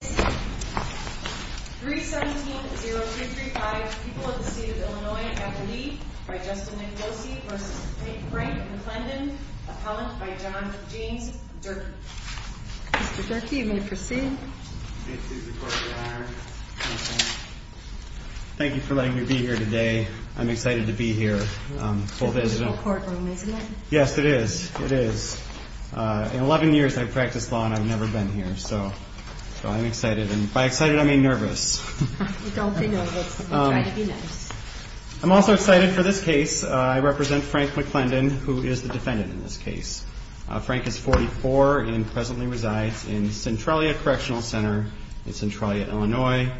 317-0235, People of the State of Illinois, after me, by Justin Nicosi, v. Frank McClendon, appellant by John James Durke. Mr. Durke, you may proceed. Thank you for letting me be here today. I'm excited to be here. It's an additional courtroom, isn't it? Yes, it is. It is. In 11 years I've practiced law and I've never been here, so I'm excited. And by excited, I mean nervous. Don't be nervous. Try to be nice. I'm also excited for this case. I represent Frank McClendon, who is the defendant in this case. Frank is 44 and presently resides in Centralia Correctional Center in Centralia, Illinois.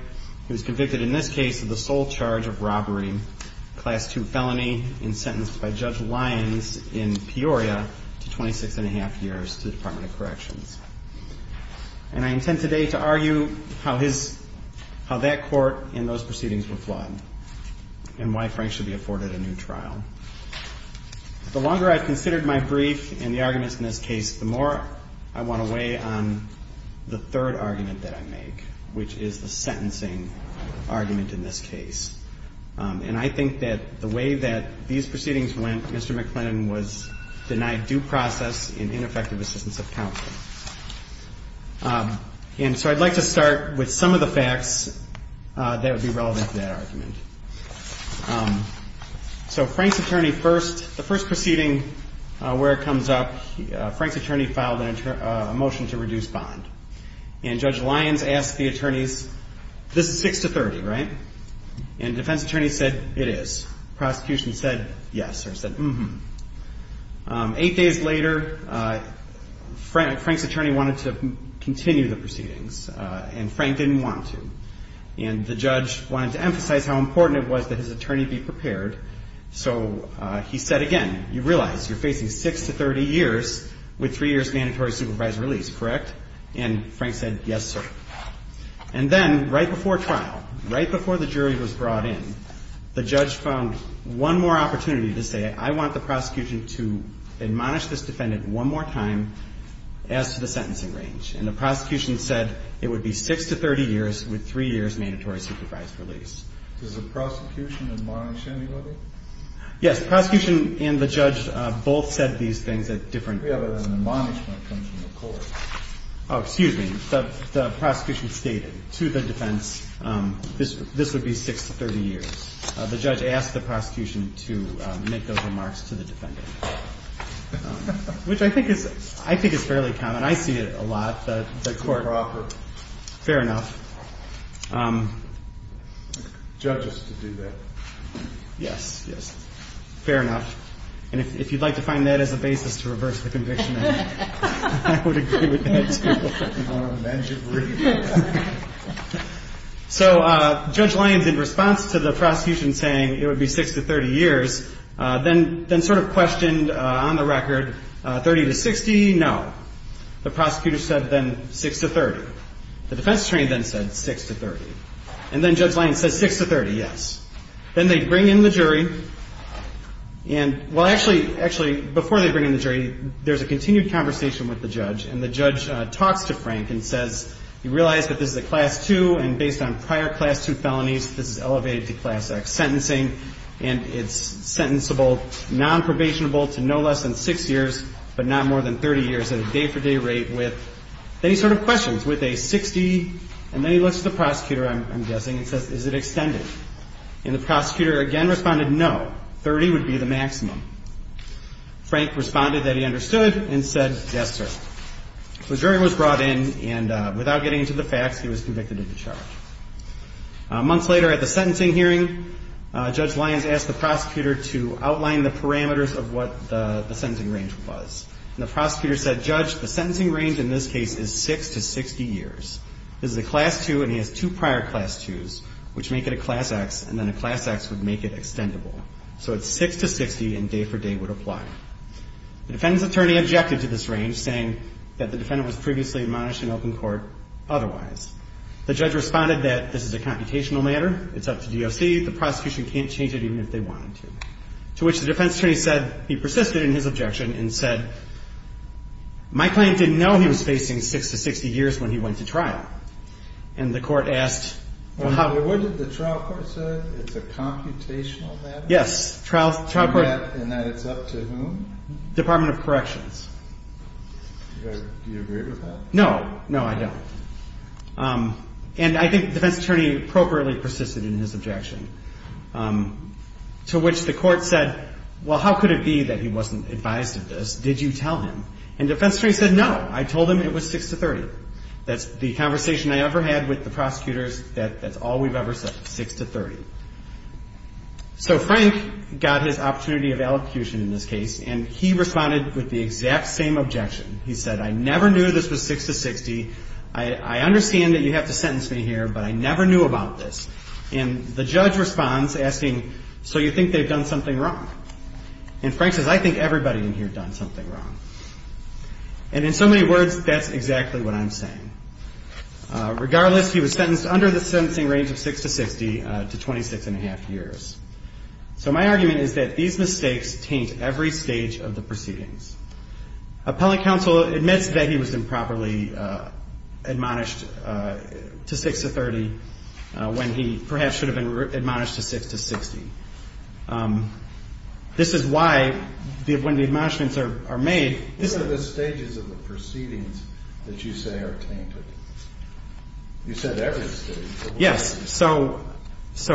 He was convicted in this case of the sole charge of robbery, Class II felony, and sentenced by Judge Lyons in Peoria to 26 1⁄2 years to the Department of Corrections. And I intend today to argue how that court and those proceedings were flawed and why Frank should be afforded a new trial. The longer I've considered my brief and the arguments in this case, the more I want to weigh on the third argument that I make, which is the sentencing argument in this case. And I think that the way that these proceedings went, Mr. McClendon was denied due process and ineffective assistance of counsel. And so I'd like to start with some of the facts that would be relevant to that argument. So Frank's attorney first, the first proceeding where it comes up, Frank's attorney filed a motion to reduce bond. And Judge Lyons asked the attorneys, this is 6 to 30, right? And defense attorney said, it is. Prosecution said, yes, or said, mm-hmm. Eight days later, Frank's attorney wanted to continue the proceedings, and Frank didn't want to. And the judge wanted to emphasize how important it was that his attorney be prepared. So he said again, you realize you're facing 6 to 30 years with three years mandatory supervisory release, correct? And Frank said, yes, sir. And then right before trial, right before the jury was brought in, the judge found one more opportunity to say, I want the prosecution to admonish this defendant one more time as to the sentencing range. And the prosecution said it would be 6 to 30 years with three years mandatory supervised release. Does the prosecution admonish anybody? Yes. The prosecution and the judge both said these things at different times. We have an admonishment from the court. Oh, excuse me. The prosecution stated to the defense this would be 6 to 30 years. The judge asked the prosecution to make those remarks to the defendant, which I think is fairly common. I see it a lot. Fair enough. Judges do that. Yes, yes. Fair enough. And if you'd like to find that as a basis to reverse the conviction, I would agree with that, too. So Judge Lyons, in response to the prosecution saying it would be 6 to 30 years, then sort of questioned on the record 30 to 60, no. The prosecutor said then 6 to 30. The defense attorney then said 6 to 30. And then Judge Lyons said 6 to 30, yes. Then they bring in the jury. And well, actually, actually, before they bring in the jury, there's a continued conversation with the judge. And the judge talks to Frank and says, you realize that this is a Class II, and based on prior Class II felonies, this is elevated to Class X sentencing. And it's sentencable, nonprobationable to no less than 6 years, but not more than 30 years at a day-for-day rate with any sort of questions. With a 60. And then he looks at the prosecutor, I'm guessing, and says, is it extended? And the prosecutor again responded, no. 30 would be the maximum. Frank responded that he understood and said, yes, sir. The jury was brought in, and without getting into the facts, he was convicted of the charge. Months later, at the sentencing hearing, Judge Lyons asked the prosecutor to outline the parameters of what the sentencing range was. And the prosecutor said, Judge, the sentencing range in this case is 6 to 60 years. This is a Class II, and he has two prior Class IIs, which make it a Class X, and then a Class X would make it extendable. So it's 6 to 60, and day-for-day would apply. The defendant's attorney objected to this range, saying that the defendant was previously admonished in open court otherwise. The judge responded that this is a computational matter. It's up to DOC. The prosecution can't change it even if they wanted to. To which the defense attorney said he persisted in his objection and said, my client didn't know he was facing 6 to 60 years when he went to trial. And the court asked, well, how? What did the trial court say? It's a computational matter? Yes. And that it's up to whom? Department of Corrections. Do you agree with that? No. No, I don't. And I think the defense attorney appropriately persisted in his objection. To which the court said, well, how could it be that he wasn't advised of this? Did you tell him? And the defense attorney said, no. I told him it was 6 to 30. That's the conversation I ever had with the prosecutors. That's all we've ever said, 6 to 30. So Frank got his opportunity of allocution in this case, and he responded with the exact same objection. He said, I never knew this was 6 to 60. I understand that you have to sentence me here, but I never knew about this. And the judge responds, asking, so you think they've done something wrong? And Frank says, I think everybody in here done something wrong. And in so many words, that's exactly what I'm saying. Regardless, he was sentenced under the sentencing range of 6 to 60 to 26 and a half years. So my argument is that these mistakes taint every stage of the proceedings. Appellant counsel admits that he was improperly admonished to 6 to 30 when he perhaps should have been admonished to 6 to 60. This is why when the admonishments are made. What are the stages of the proceedings that you say are tainted? You said every stage. Yes. So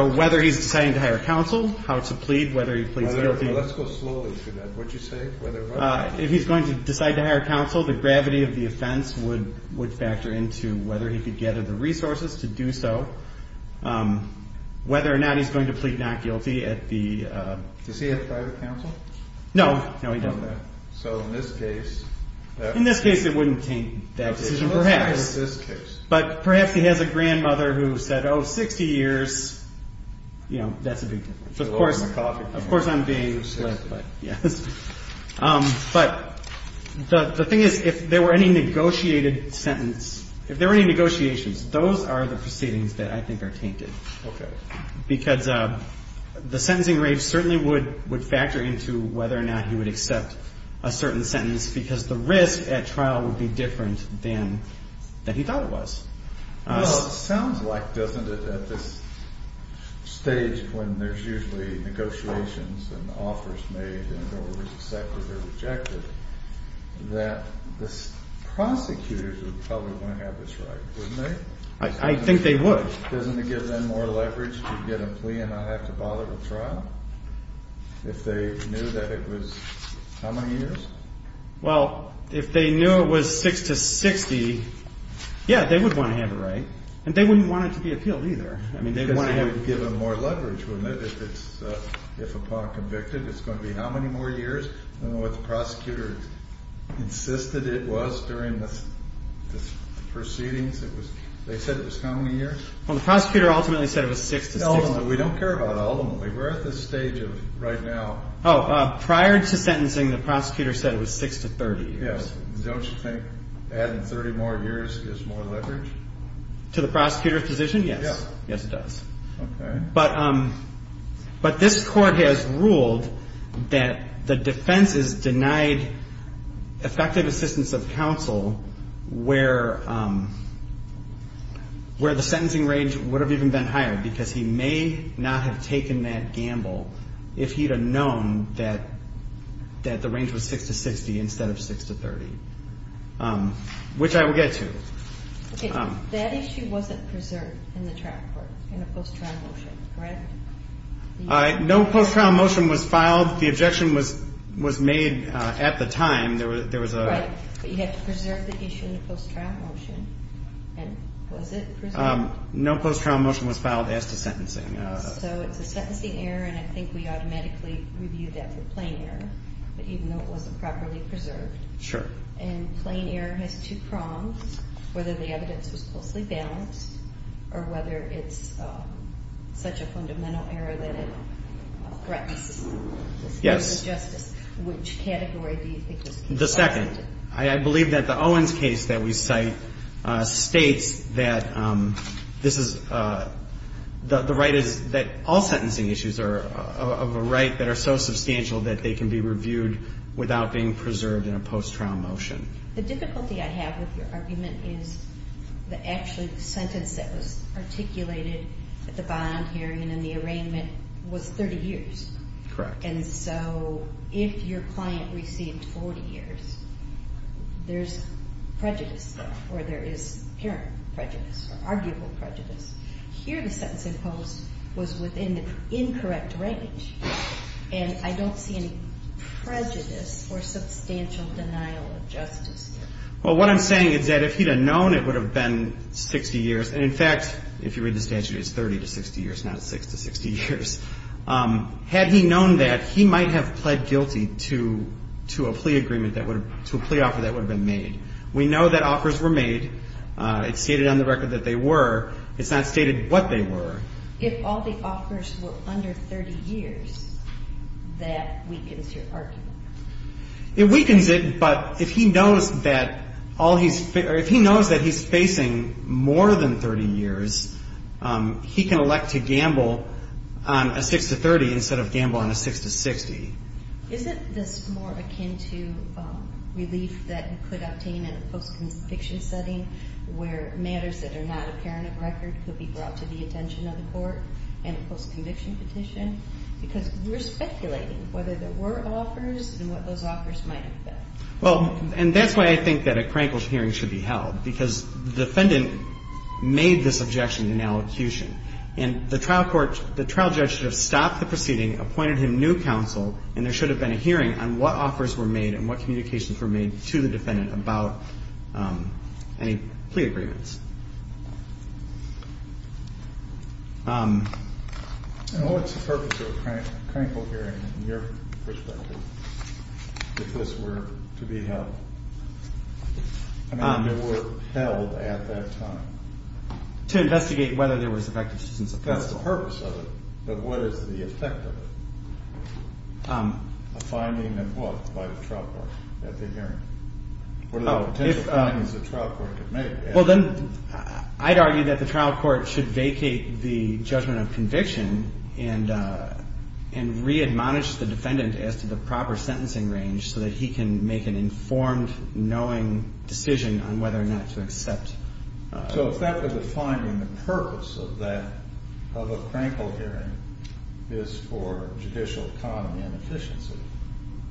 whether he's deciding to hire counsel, how to plead, whether he pleads guilty. Let's go slowly through that. If he's going to decide to hire counsel, the gravity of the offense would factor into whether he could gather the resources to do so. Whether or not he's going to plead not guilty at the... Does he have private counsel? No. No, he doesn't. So in this case... In this case, it wouldn't taint that decision, perhaps. But perhaps he has a grandmother who said, oh, 60 years, you know, that's a big... Of course I'm being... Yes. But the thing is, if there were any negotiated sentence, if there were any negotiations, those are the proceedings that I think are tainted. Okay. Because the sentencing rate certainly would factor into whether or not he would accept a certain sentence because the risk at trial would be different than he thought it was. Well, it sounds like, doesn't it, at this stage when there's usually negotiations and offers made and the orders accepted or rejected, that the prosecutors would probably want to have this right, wouldn't they? I think they would. Doesn't it give them more leverage to get a plea and not have to bother with trial if they knew that it was how many years? Well, if they knew it was 6 to 60, yeah, they would want to have it right. And they wouldn't want it to be appealed either. Because it would give them more leverage, wouldn't it, if upon conviction it's going to be how many more years? I don't know what the prosecutor insisted it was during the proceedings. They said it was how many years? Well, the prosecutor ultimately said it was 6 to 60. Ultimately. We don't care about ultimately. We're at this stage of right now. Oh, prior to sentencing, the prosecutor said it was 6 to 30 years. Yeah. Don't you think adding 30 more years gives more leverage? To the prosecutor's position, yes. Yeah. Yes, it does. Okay. But this court has ruled that the defense has denied effective assistance of counsel where the sentencing range would have even been higher. Because he may not have taken that gamble if he'd have known that the range was 6 to 60 instead of 6 to 30, which I will get to. Okay. That issue wasn't preserved in the trial court in a post-trial motion, correct? No post-trial motion was filed. The objection was made at the time. Right. But you had to preserve the issue in the post-trial motion. And was it preserved? No post-trial motion was filed as to sentencing. So it's a sentencing error, and I think we automatically reviewed that for plain error. But even though it wasn't properly preserved. Sure. And plain error has two prongs, whether the evidence was closely balanced or whether it's such a fundamental error that it threatens justice. Yes. Which category do you think was considered? The second. I believe that the Owens case that we cite states that this is the right is that all sentencing issues are of a right that are so substantial that they can be reviewed without being preserved in a post-trial motion. The difficulty I have with your argument is that actually the sentence that was articulated at the bond hearing and in the arraignment was 30 years. Correct. And so if your client received 40 years, there's prejudice there, or there is apparent prejudice or arguable prejudice. Here the sentence imposed was within the incorrect range, and I don't see any prejudice or substantial denial of justice. Well, what I'm saying is that if he'd have known, it would have been 60 years. And, in fact, if you read the statute, it's 30 to 60 years, not 6 to 60 years. Had he known that, he might have pled guilty to a plea agreement that would have, to a plea offer that would have been made. We know that offers were made. It's stated on the record that they were. It's not stated what they were. If all the offers were under 30 years, that weakens your argument. It weakens it, but if he knows that all he's, or if he knows that he's facing more than 30 years, he can elect to gamble on a 6 to 30 instead of gamble on a 6 to 60. Isn't this more akin to relief that you could obtain in a post-conviction setting where matters that are not apparent of record could be brought to the attention of the court in a post-conviction petition? Because we're speculating whether there were offers and what those offers might have been. Well, and that's why I think that a Krankles hearing should be held, because the defendant made this objection in allocution. And the trial court, the trial judge should have stopped the proceeding, appointed him new counsel, and there should have been a hearing on what offers were made and what communications were made to the defendant about any plea agreements. What's the purpose of a Krankles hearing, in your perspective, if this were to be held? I mean, if it were held at that time? To investigate whether there was effective substance of counsel. That's the purpose of it, but what is the effect of it? A finding of what by the trial court at the hearing? What are the potential findings the trial court could make? Well, then I'd argue that the trial court should vacate the judgment of conviction and readmonish the defendant as to the proper sentencing range so that he can make an informed, knowing decision on whether or not to accept. So if that were the finding, the purpose of that, of a Krankles hearing, is for judicial economy and efficiency,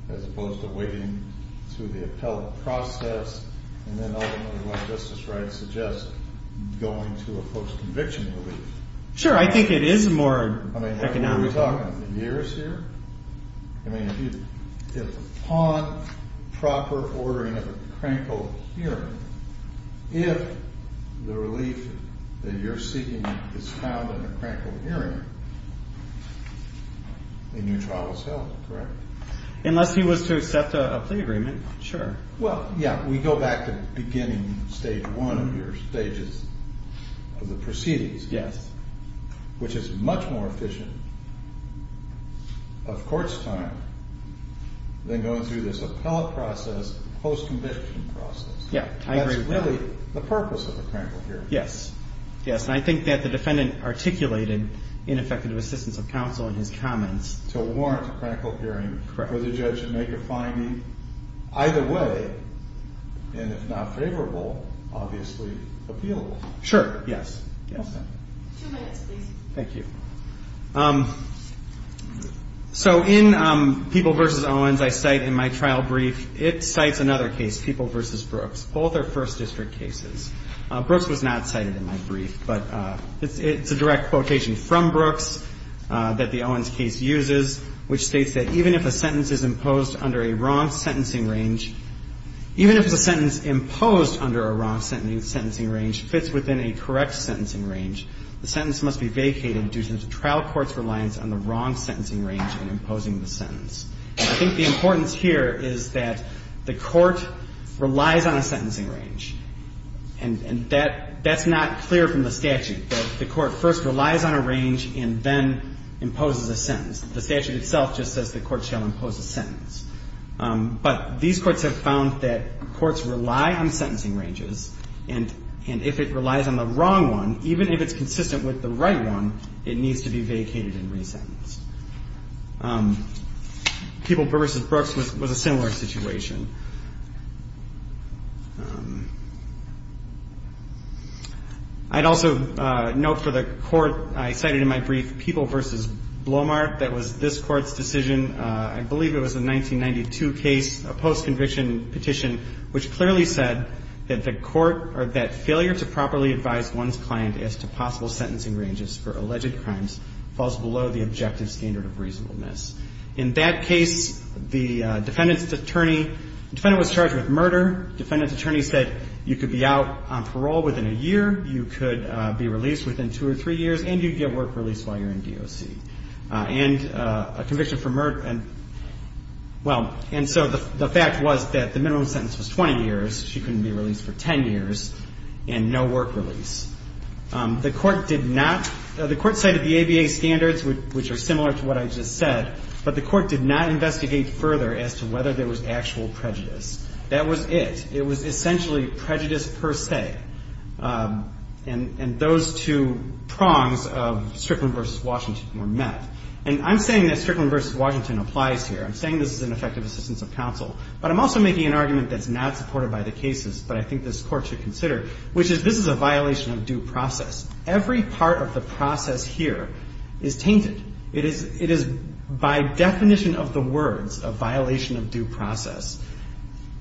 as opposed to waiting through the appellate process and then ultimately, what Justice Wright suggests, going to a post-conviction relief. Sure, I think it is more economic. I mean, what are we talking, years here? I mean, if upon proper ordering of a Krankles hearing, if the relief that you're seeking is found in a Krankles hearing, then your trial is held, correct? Unless he was to accept a plea agreement, sure. Well, yeah, we go back to beginning stage one of your stages of the proceedings. Yes. Which is much more efficient of court's time than going through this appellate process, post-conviction process. Yeah, I agree with that. That's really the purpose of a Krankles hearing. Yes, yes, and I think that the defendant articulated ineffective assistance of counsel in his comments. To warrant a Krankles hearing for the judge to make a finding. Either way, and if not favorable, obviously, appealable. Sure, yes, yes. Two minutes, please. Thank you. So in People v. Owens, I cite in my trial brief, it cites another case, People v. Brooks. Both are First District cases. Brooks was not cited in my brief, but it's a direct quotation from Brooks that the Owens case uses, which states that even if a sentence is imposed under a wrong sentencing range, even if the sentence imposed under a wrong sentencing range fits within a correct sentencing range, the sentence must be vacated due to the trial court's reliance on the wrong sentencing range in imposing the sentence. I think the importance here is that the court relies on a sentencing range, and that that's not clear from the statute. The court first relies on a range and then imposes a sentence. The statute itself just says the court shall impose a sentence. But these courts have found that courts rely on sentencing ranges, and if it relies on the wrong one, even if it's consistent with the right one, it needs to be vacated and resentenced. People v. Brooks was a similar situation. I'd also note for the court I cited in my brief, People v. Blomart. That was this Court's decision. I believe it was a 1992 case, a post-conviction petition, which clearly said that the court or that failure to properly advise one's client as to possible sentencing ranges for alleged crimes falls below the objective standard of reasonableness. The defendant was charged with murder. The defendant's attorney said you could be out on parole within a year, you could be released within two or three years, and you'd get work release while you're in DOC. And a conviction for murder, well, and so the fact was that the minimum sentence was 20 years. She couldn't be released for 10 years and no work release. The court did not, the court cited the ABA standards, which are similar to what I just said, but the court did not investigate further as to whether there was actual prejudice. That was it. It was essentially prejudice per se. And those two prongs of Strickland v. Washington were met. And I'm saying that Strickland v. Washington applies here. I'm saying this is an effective assistance of counsel, but I'm also making an argument that's not supported by the cases, but I think this Court should consider, which is this is a violation of due process. Every part of the process here is tainted. It is by definition of the words a violation of due process.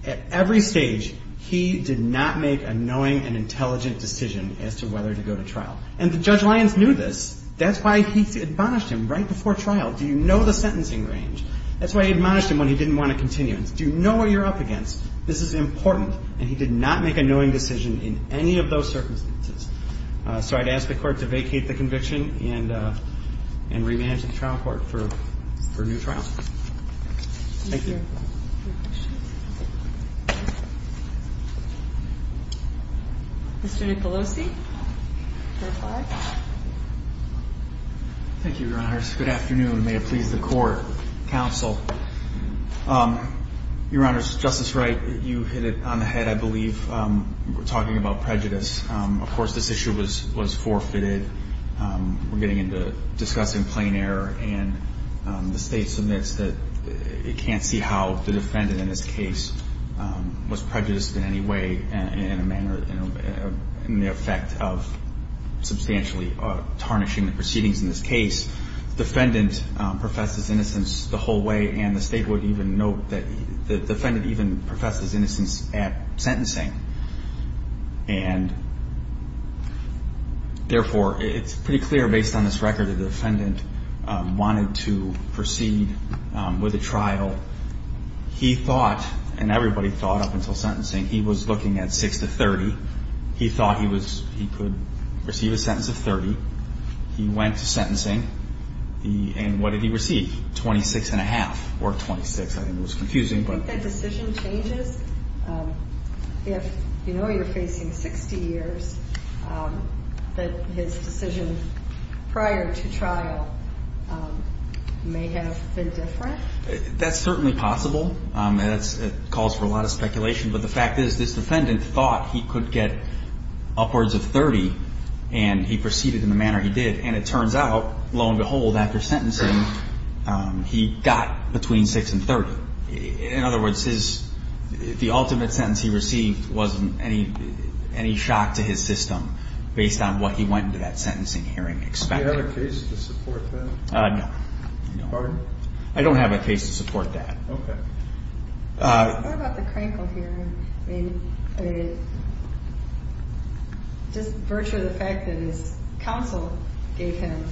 At every stage, he did not make a knowing and intelligent decision as to whether to go to trial. And Judge Lyons knew this. That's why he admonished him right before trial. Do you know the sentencing range? That's why he admonished him when he didn't want a continuance. Do you know what you're up against? This is important. And he did not make a knowing decision in any of those circumstances. So I'd ask the Court to vacate the conviction and remand it to the trial court for a new trial. Thank you. Mr. Nicolosi. Thank you, Your Honors. Good afternoon. May it please the Court, counsel. Your Honors, Justice Wright, you hit it on the head, I believe, talking about prejudice. Of course, this issue was forfeited. We're getting into discussing plain error, and the State submits that it can't see how the defendant in this case was prejudiced in any way in the effect of substantially tarnishing the proceedings in this case. The defendant professes innocence the whole way, and the State would even note that the defendant even professes innocence at sentencing. And, therefore, it's pretty clear, based on this record, that the defendant wanted to proceed with a trial. He thought, and everybody thought up until sentencing, he was looking at 6 to 30. He thought he could receive a sentence of 30. He went to sentencing, and what did he receive? Twenty-six and a half, or 26. I think it was confusing. Do you think that decision changes? If you know you're facing 60 years, that his decision prior to trial may have been different? That's certainly possible. It calls for a lot of speculation. But the fact is this defendant thought he could get upwards of 30, and he proceeded in the manner he did. And it turns out, lo and behold, after sentencing, he got between 6 and 30. In other words, the ultimate sentence he received wasn't any shock to his system, based on what he went into that sentencing hearing expecting. Do you have a case to support that? No. Pardon? I don't have a case to support that. Okay. What about the Crankle hearing? I mean, just virtue of the fact that his counsel gave him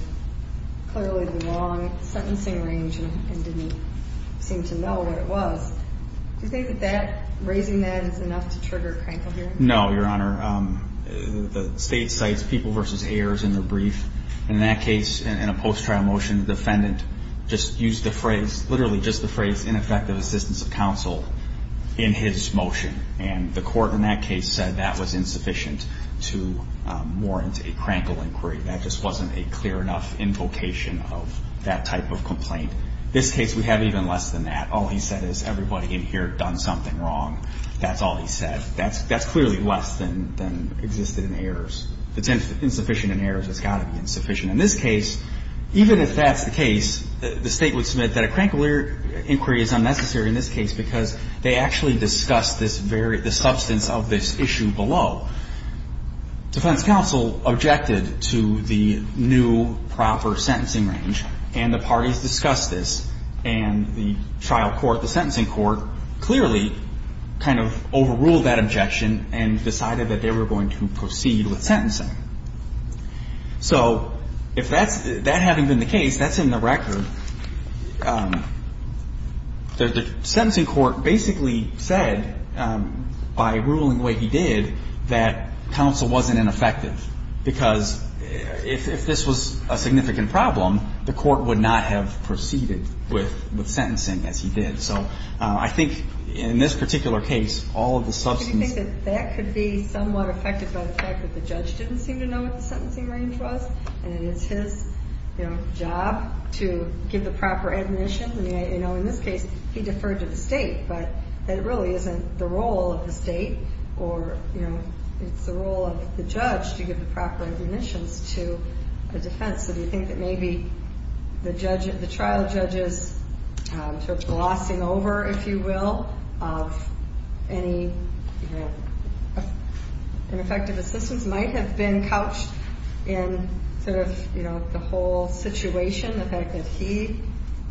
clearly the wrong sentencing range and didn't seem to know what it was, do you think that raising that is enough to trigger a Crankle hearing? No, Your Honor. The state cites people versus heirs in the brief. In that case, in a post-trial motion, the defendant just used the phrase, literally just the phrase, ineffective assistance of counsel in his motion. And the court in that case said that was insufficient to warrant a Crankle inquiry. That just wasn't a clear enough invocation of that type of complaint. This case, we have even less than that. All he said is everybody in here done something wrong. That's all he said. That's clearly less than existed in heirs. It's insufficient in heirs. It's got to be insufficient. In this case, even if that's the case, the State would submit that a Crankle inquiry is unnecessary in this case because they actually discussed this very ‑‑ the substance of this issue below. Defense counsel objected to the new proper sentencing range. And the parties discussed this. And the trial court, the sentencing court, clearly kind of overruled that objection and decided that they were going to proceed with sentencing. So if that's ‑‑ that hadn't been the case, that's in the record. The sentencing court basically said, by ruling the way he did, that it was not that counsel wasn't ineffective. Because if this was a significant problem, the court would not have proceeded with sentencing as he did. So I think in this particular case, all of the substance ‑‑ Do you think that that could be somewhat affected by the fact that the judge didn't seem to know what the sentencing range was? And it's his, you know, job to give the proper admonition? You know, in this case, he deferred to the State. But that really isn't the role of the State. Or, you know, it's the role of the judge to give the proper admonitions to a defense. So do you think that maybe the trial judge's sort of glossing over, if you will, of any ineffective assistance might have been couched in sort of, you know, the whole situation, the fact that he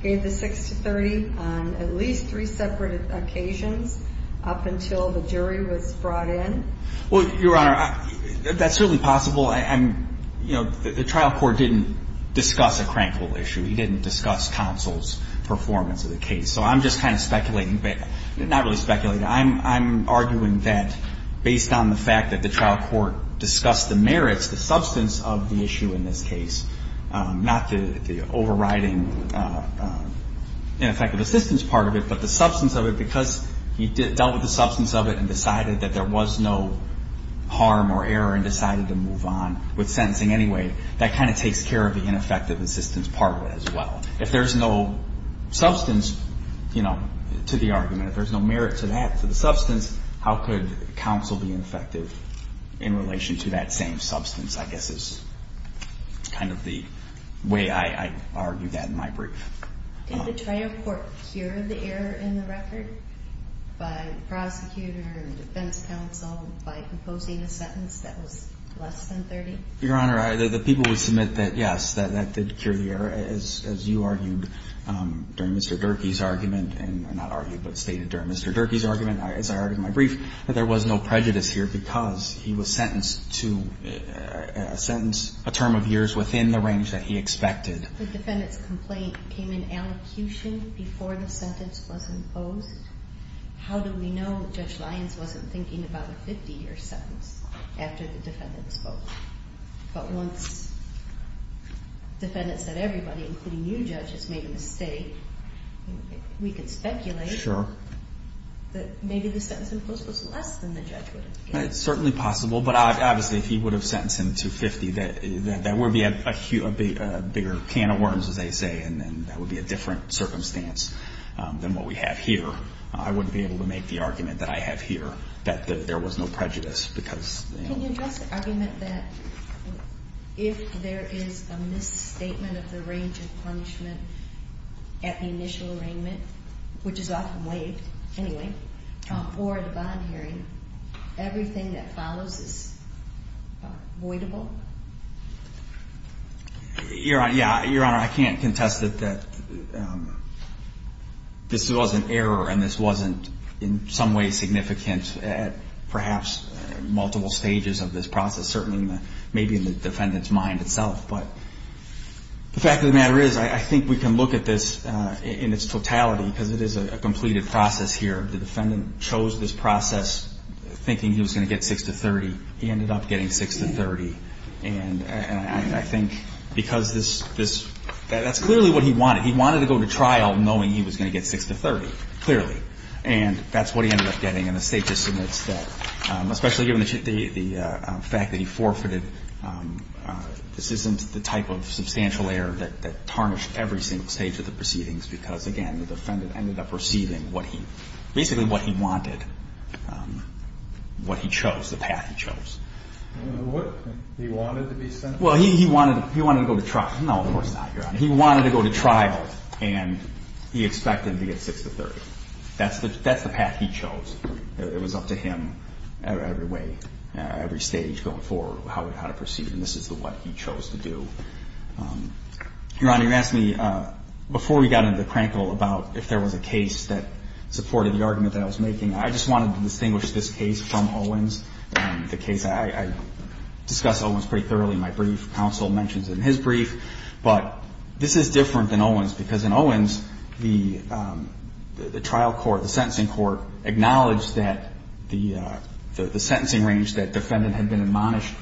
gave the 6 to 30 on at least three separate occasions up until the jury was brought in? Well, Your Honor, that's certainly possible. You know, the trial court didn't discuss a crankle issue. He didn't discuss counsel's performance of the case. So I'm just kind of speculating, but not really speculating. I'm arguing that based on the fact that the trial court discussed the merits, the substance of the issue in this case, not the overriding ineffective assistance part of it, but the substance of it. Because he dealt with the substance of it and decided that there was no harm or error and decided to move on with sentencing anyway, that kind of takes care of the ineffective assistance part of it as well. If there's no substance, you know, to the argument, if there's no merit to that, to the substance, how could counsel be effective in relation to that same substance, I guess is kind of the way I argue that in my brief. Did the trial court cure the error in the record by the prosecutor and the defense counsel by proposing a sentence that was less than 30? Your Honor, the people would submit that, yes, that did cure the error, as you argued during Mr. Durkee's argument, and not argued but stated during Mr. Durkee's argument, as I argued in my brief, that there was no prejudice here because he was sentenced to a sentence, a term of years within the range that he expected. If the defendant's complaint came in elocution before the sentence was imposed, how do we know that Judge Lyons wasn't thinking about a 50-year sentence after the defendant spoke? But once the defendant said everybody, including you, Judge, has made a mistake, we could speculate that maybe the sentence imposed was less than the judge would have given. It's certainly possible, but obviously if he would have sentenced him to 50, that would be a bigger can of worms, as they say, and that would be a different circumstance than what we have here. I wouldn't be able to make the argument that I have here that there was no prejudice. Can you address the argument that if there is a misstatement of the range of punishment at the initial arraignment, which is often waived anyway, or at a bond hearing, everything that follows is avoidable? Your Honor, I can't contest it that this was an error and this wasn't in some way significant at perhaps multiple stages of this process, certainly maybe in the defendant's mind itself. But the fact of the matter is I think we can look at this in its totality because it is a completed process here. The defendant chose this process thinking he was going to get 6 to 30. He ended up getting 6 to 30. And I think because this – that's clearly what he wanted. He wanted to go to trial knowing he was going to get 6 to 30, clearly. And that's what he ended up getting. And the State just admits that, especially given the fact that he forfeited, this isn't the type of substantial error that tarnished every single stage of the proceedings because, again, the defendant ended up receiving what he – basically what he wanted, what he chose, the path he chose. What? He wanted to be sentenced? Well, he wanted to go to trial. No, of course not, Your Honor. He wanted to go to trial and he expected to get 6 to 30. That's the path he chose. It was up to him every way, every stage going forward, how to proceed. And this is what he chose to do. Your Honor, you asked me before we got into the crankle about if there was a case that supported the argument that I was making. I just wanted to distinguish this case from Owens. The case – I discuss Owens pretty thoroughly in my brief. Counsel mentions it in his brief. But this is different than Owens because in Owens, the trial court, the sentencing court, acknowledged that the sentencing range that defendant had been admonished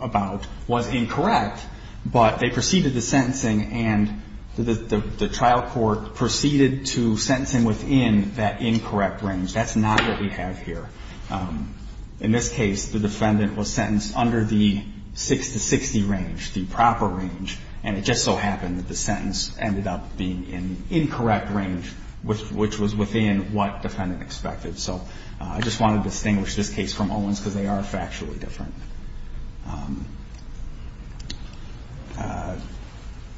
about was incorrect. But they proceeded to sentencing and the trial court proceeded to sentencing within that incorrect range. That's not what we have here. In this case, the defendant was sentenced under the 6 to 60 range, the proper range, and it just so happened that the sentence ended up being in incorrect range, which was within what defendant expected. So I just wanted to distinguish this case from Owens because they are factually different.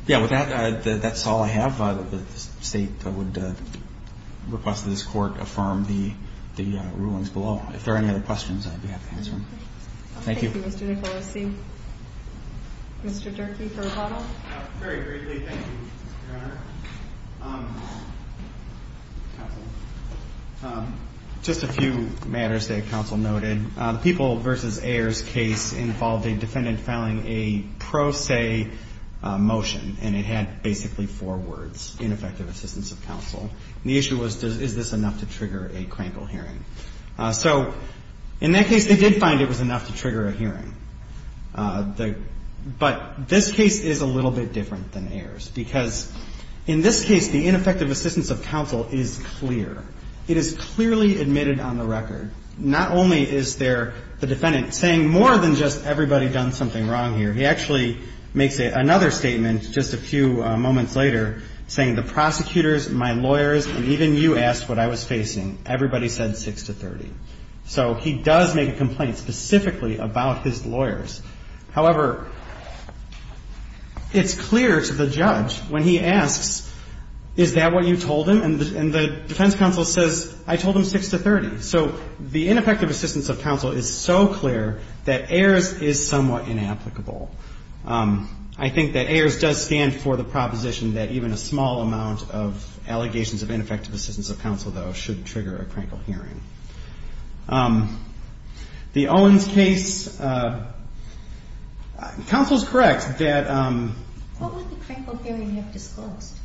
Yeah, with that, that's all I have. The State would request that this Court affirm the rulings below. If there are any other questions, I'd be happy to answer them. Thank you. Thank you, Mr. Nicolosi. Mr. Durfee for Repado. Very briefly, thank you, Your Honor. Counsel, just a few matters that counsel noted. The People v. Ayers case involved a defendant filing a pro se motion, and it had basically four words, ineffective assistance of counsel. And the issue was, is this enough to trigger a crankle hearing? So in that case, they did find it was enough to trigger a hearing. But this case is a little bit different than Ayers because in this case, the ineffective assistance of counsel is clear. It is clearly admitted on the record. Not only is there the defendant saying more than just everybody done something wrong here, he actually makes another statement just a few moments later saying the prosecutors, my lawyers, and even you asked what I was facing. Everybody said 6 to 30. So he does make a complaint specifically about his lawyers. However, it's clear to the judge when he asks, is that what you told him? And the defense counsel says, I told him 6 to 30. So the ineffective assistance of counsel is so clear that Ayers is somewhat inapplicable. I think that Ayers does stand for the proposition that even a small amount of the Owens case, counsel is correct that. What would the crankle hearing have disclosed?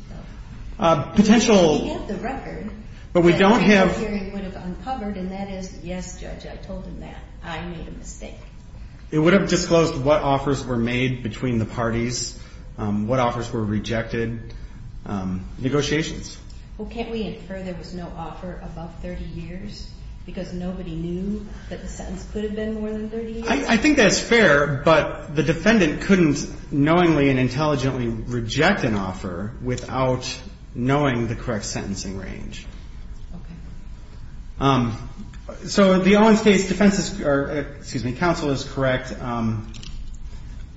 Potential. We have the record. But we don't have. The crankle hearing would have uncovered and that is, yes, judge, I told him that. I made a mistake. It would have disclosed what offers were made between the parties, what offers were rejected, negotiations. Well, can't we infer there was no offer above 30 years? Because nobody knew that the sentence could have been more than 30 years? I think that's fair. But the defendant couldn't knowingly and intelligently reject an offer without knowing the correct sentencing range. Okay. So the Owens case defense is, excuse me, counsel is correct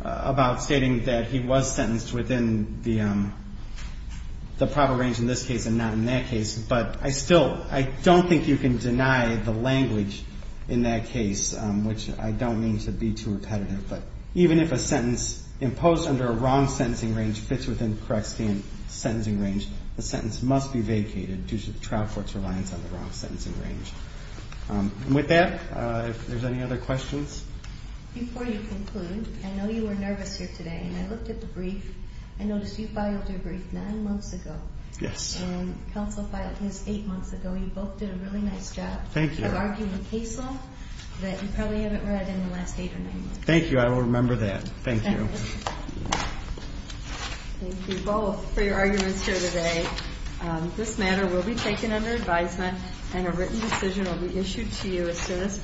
about stating that he was sentenced within the probable range in this case and not in that case. But I still, I don't think you can deny the language in that case, which I don't mean to be too repetitive. But even if a sentence imposed under a wrong sentencing range fits within the correct sentencing range, the sentence must be vacated due to the trial court's reliance on the wrong sentencing range. With that, if there's any other questions. Before you conclude, I know you were nervous here today. And I looked at the brief. I noticed you filed your brief nine months ago. Yes. And counsel filed his eight months ago. You both did a really nice job of arguing a case law that you probably haven't read in the last eight or nine months. Thank you. I will remember that. Thank you. Thank you both for your arguments here today. This matter will be taken under advisement and a written decision will be issued to you as soon as possible.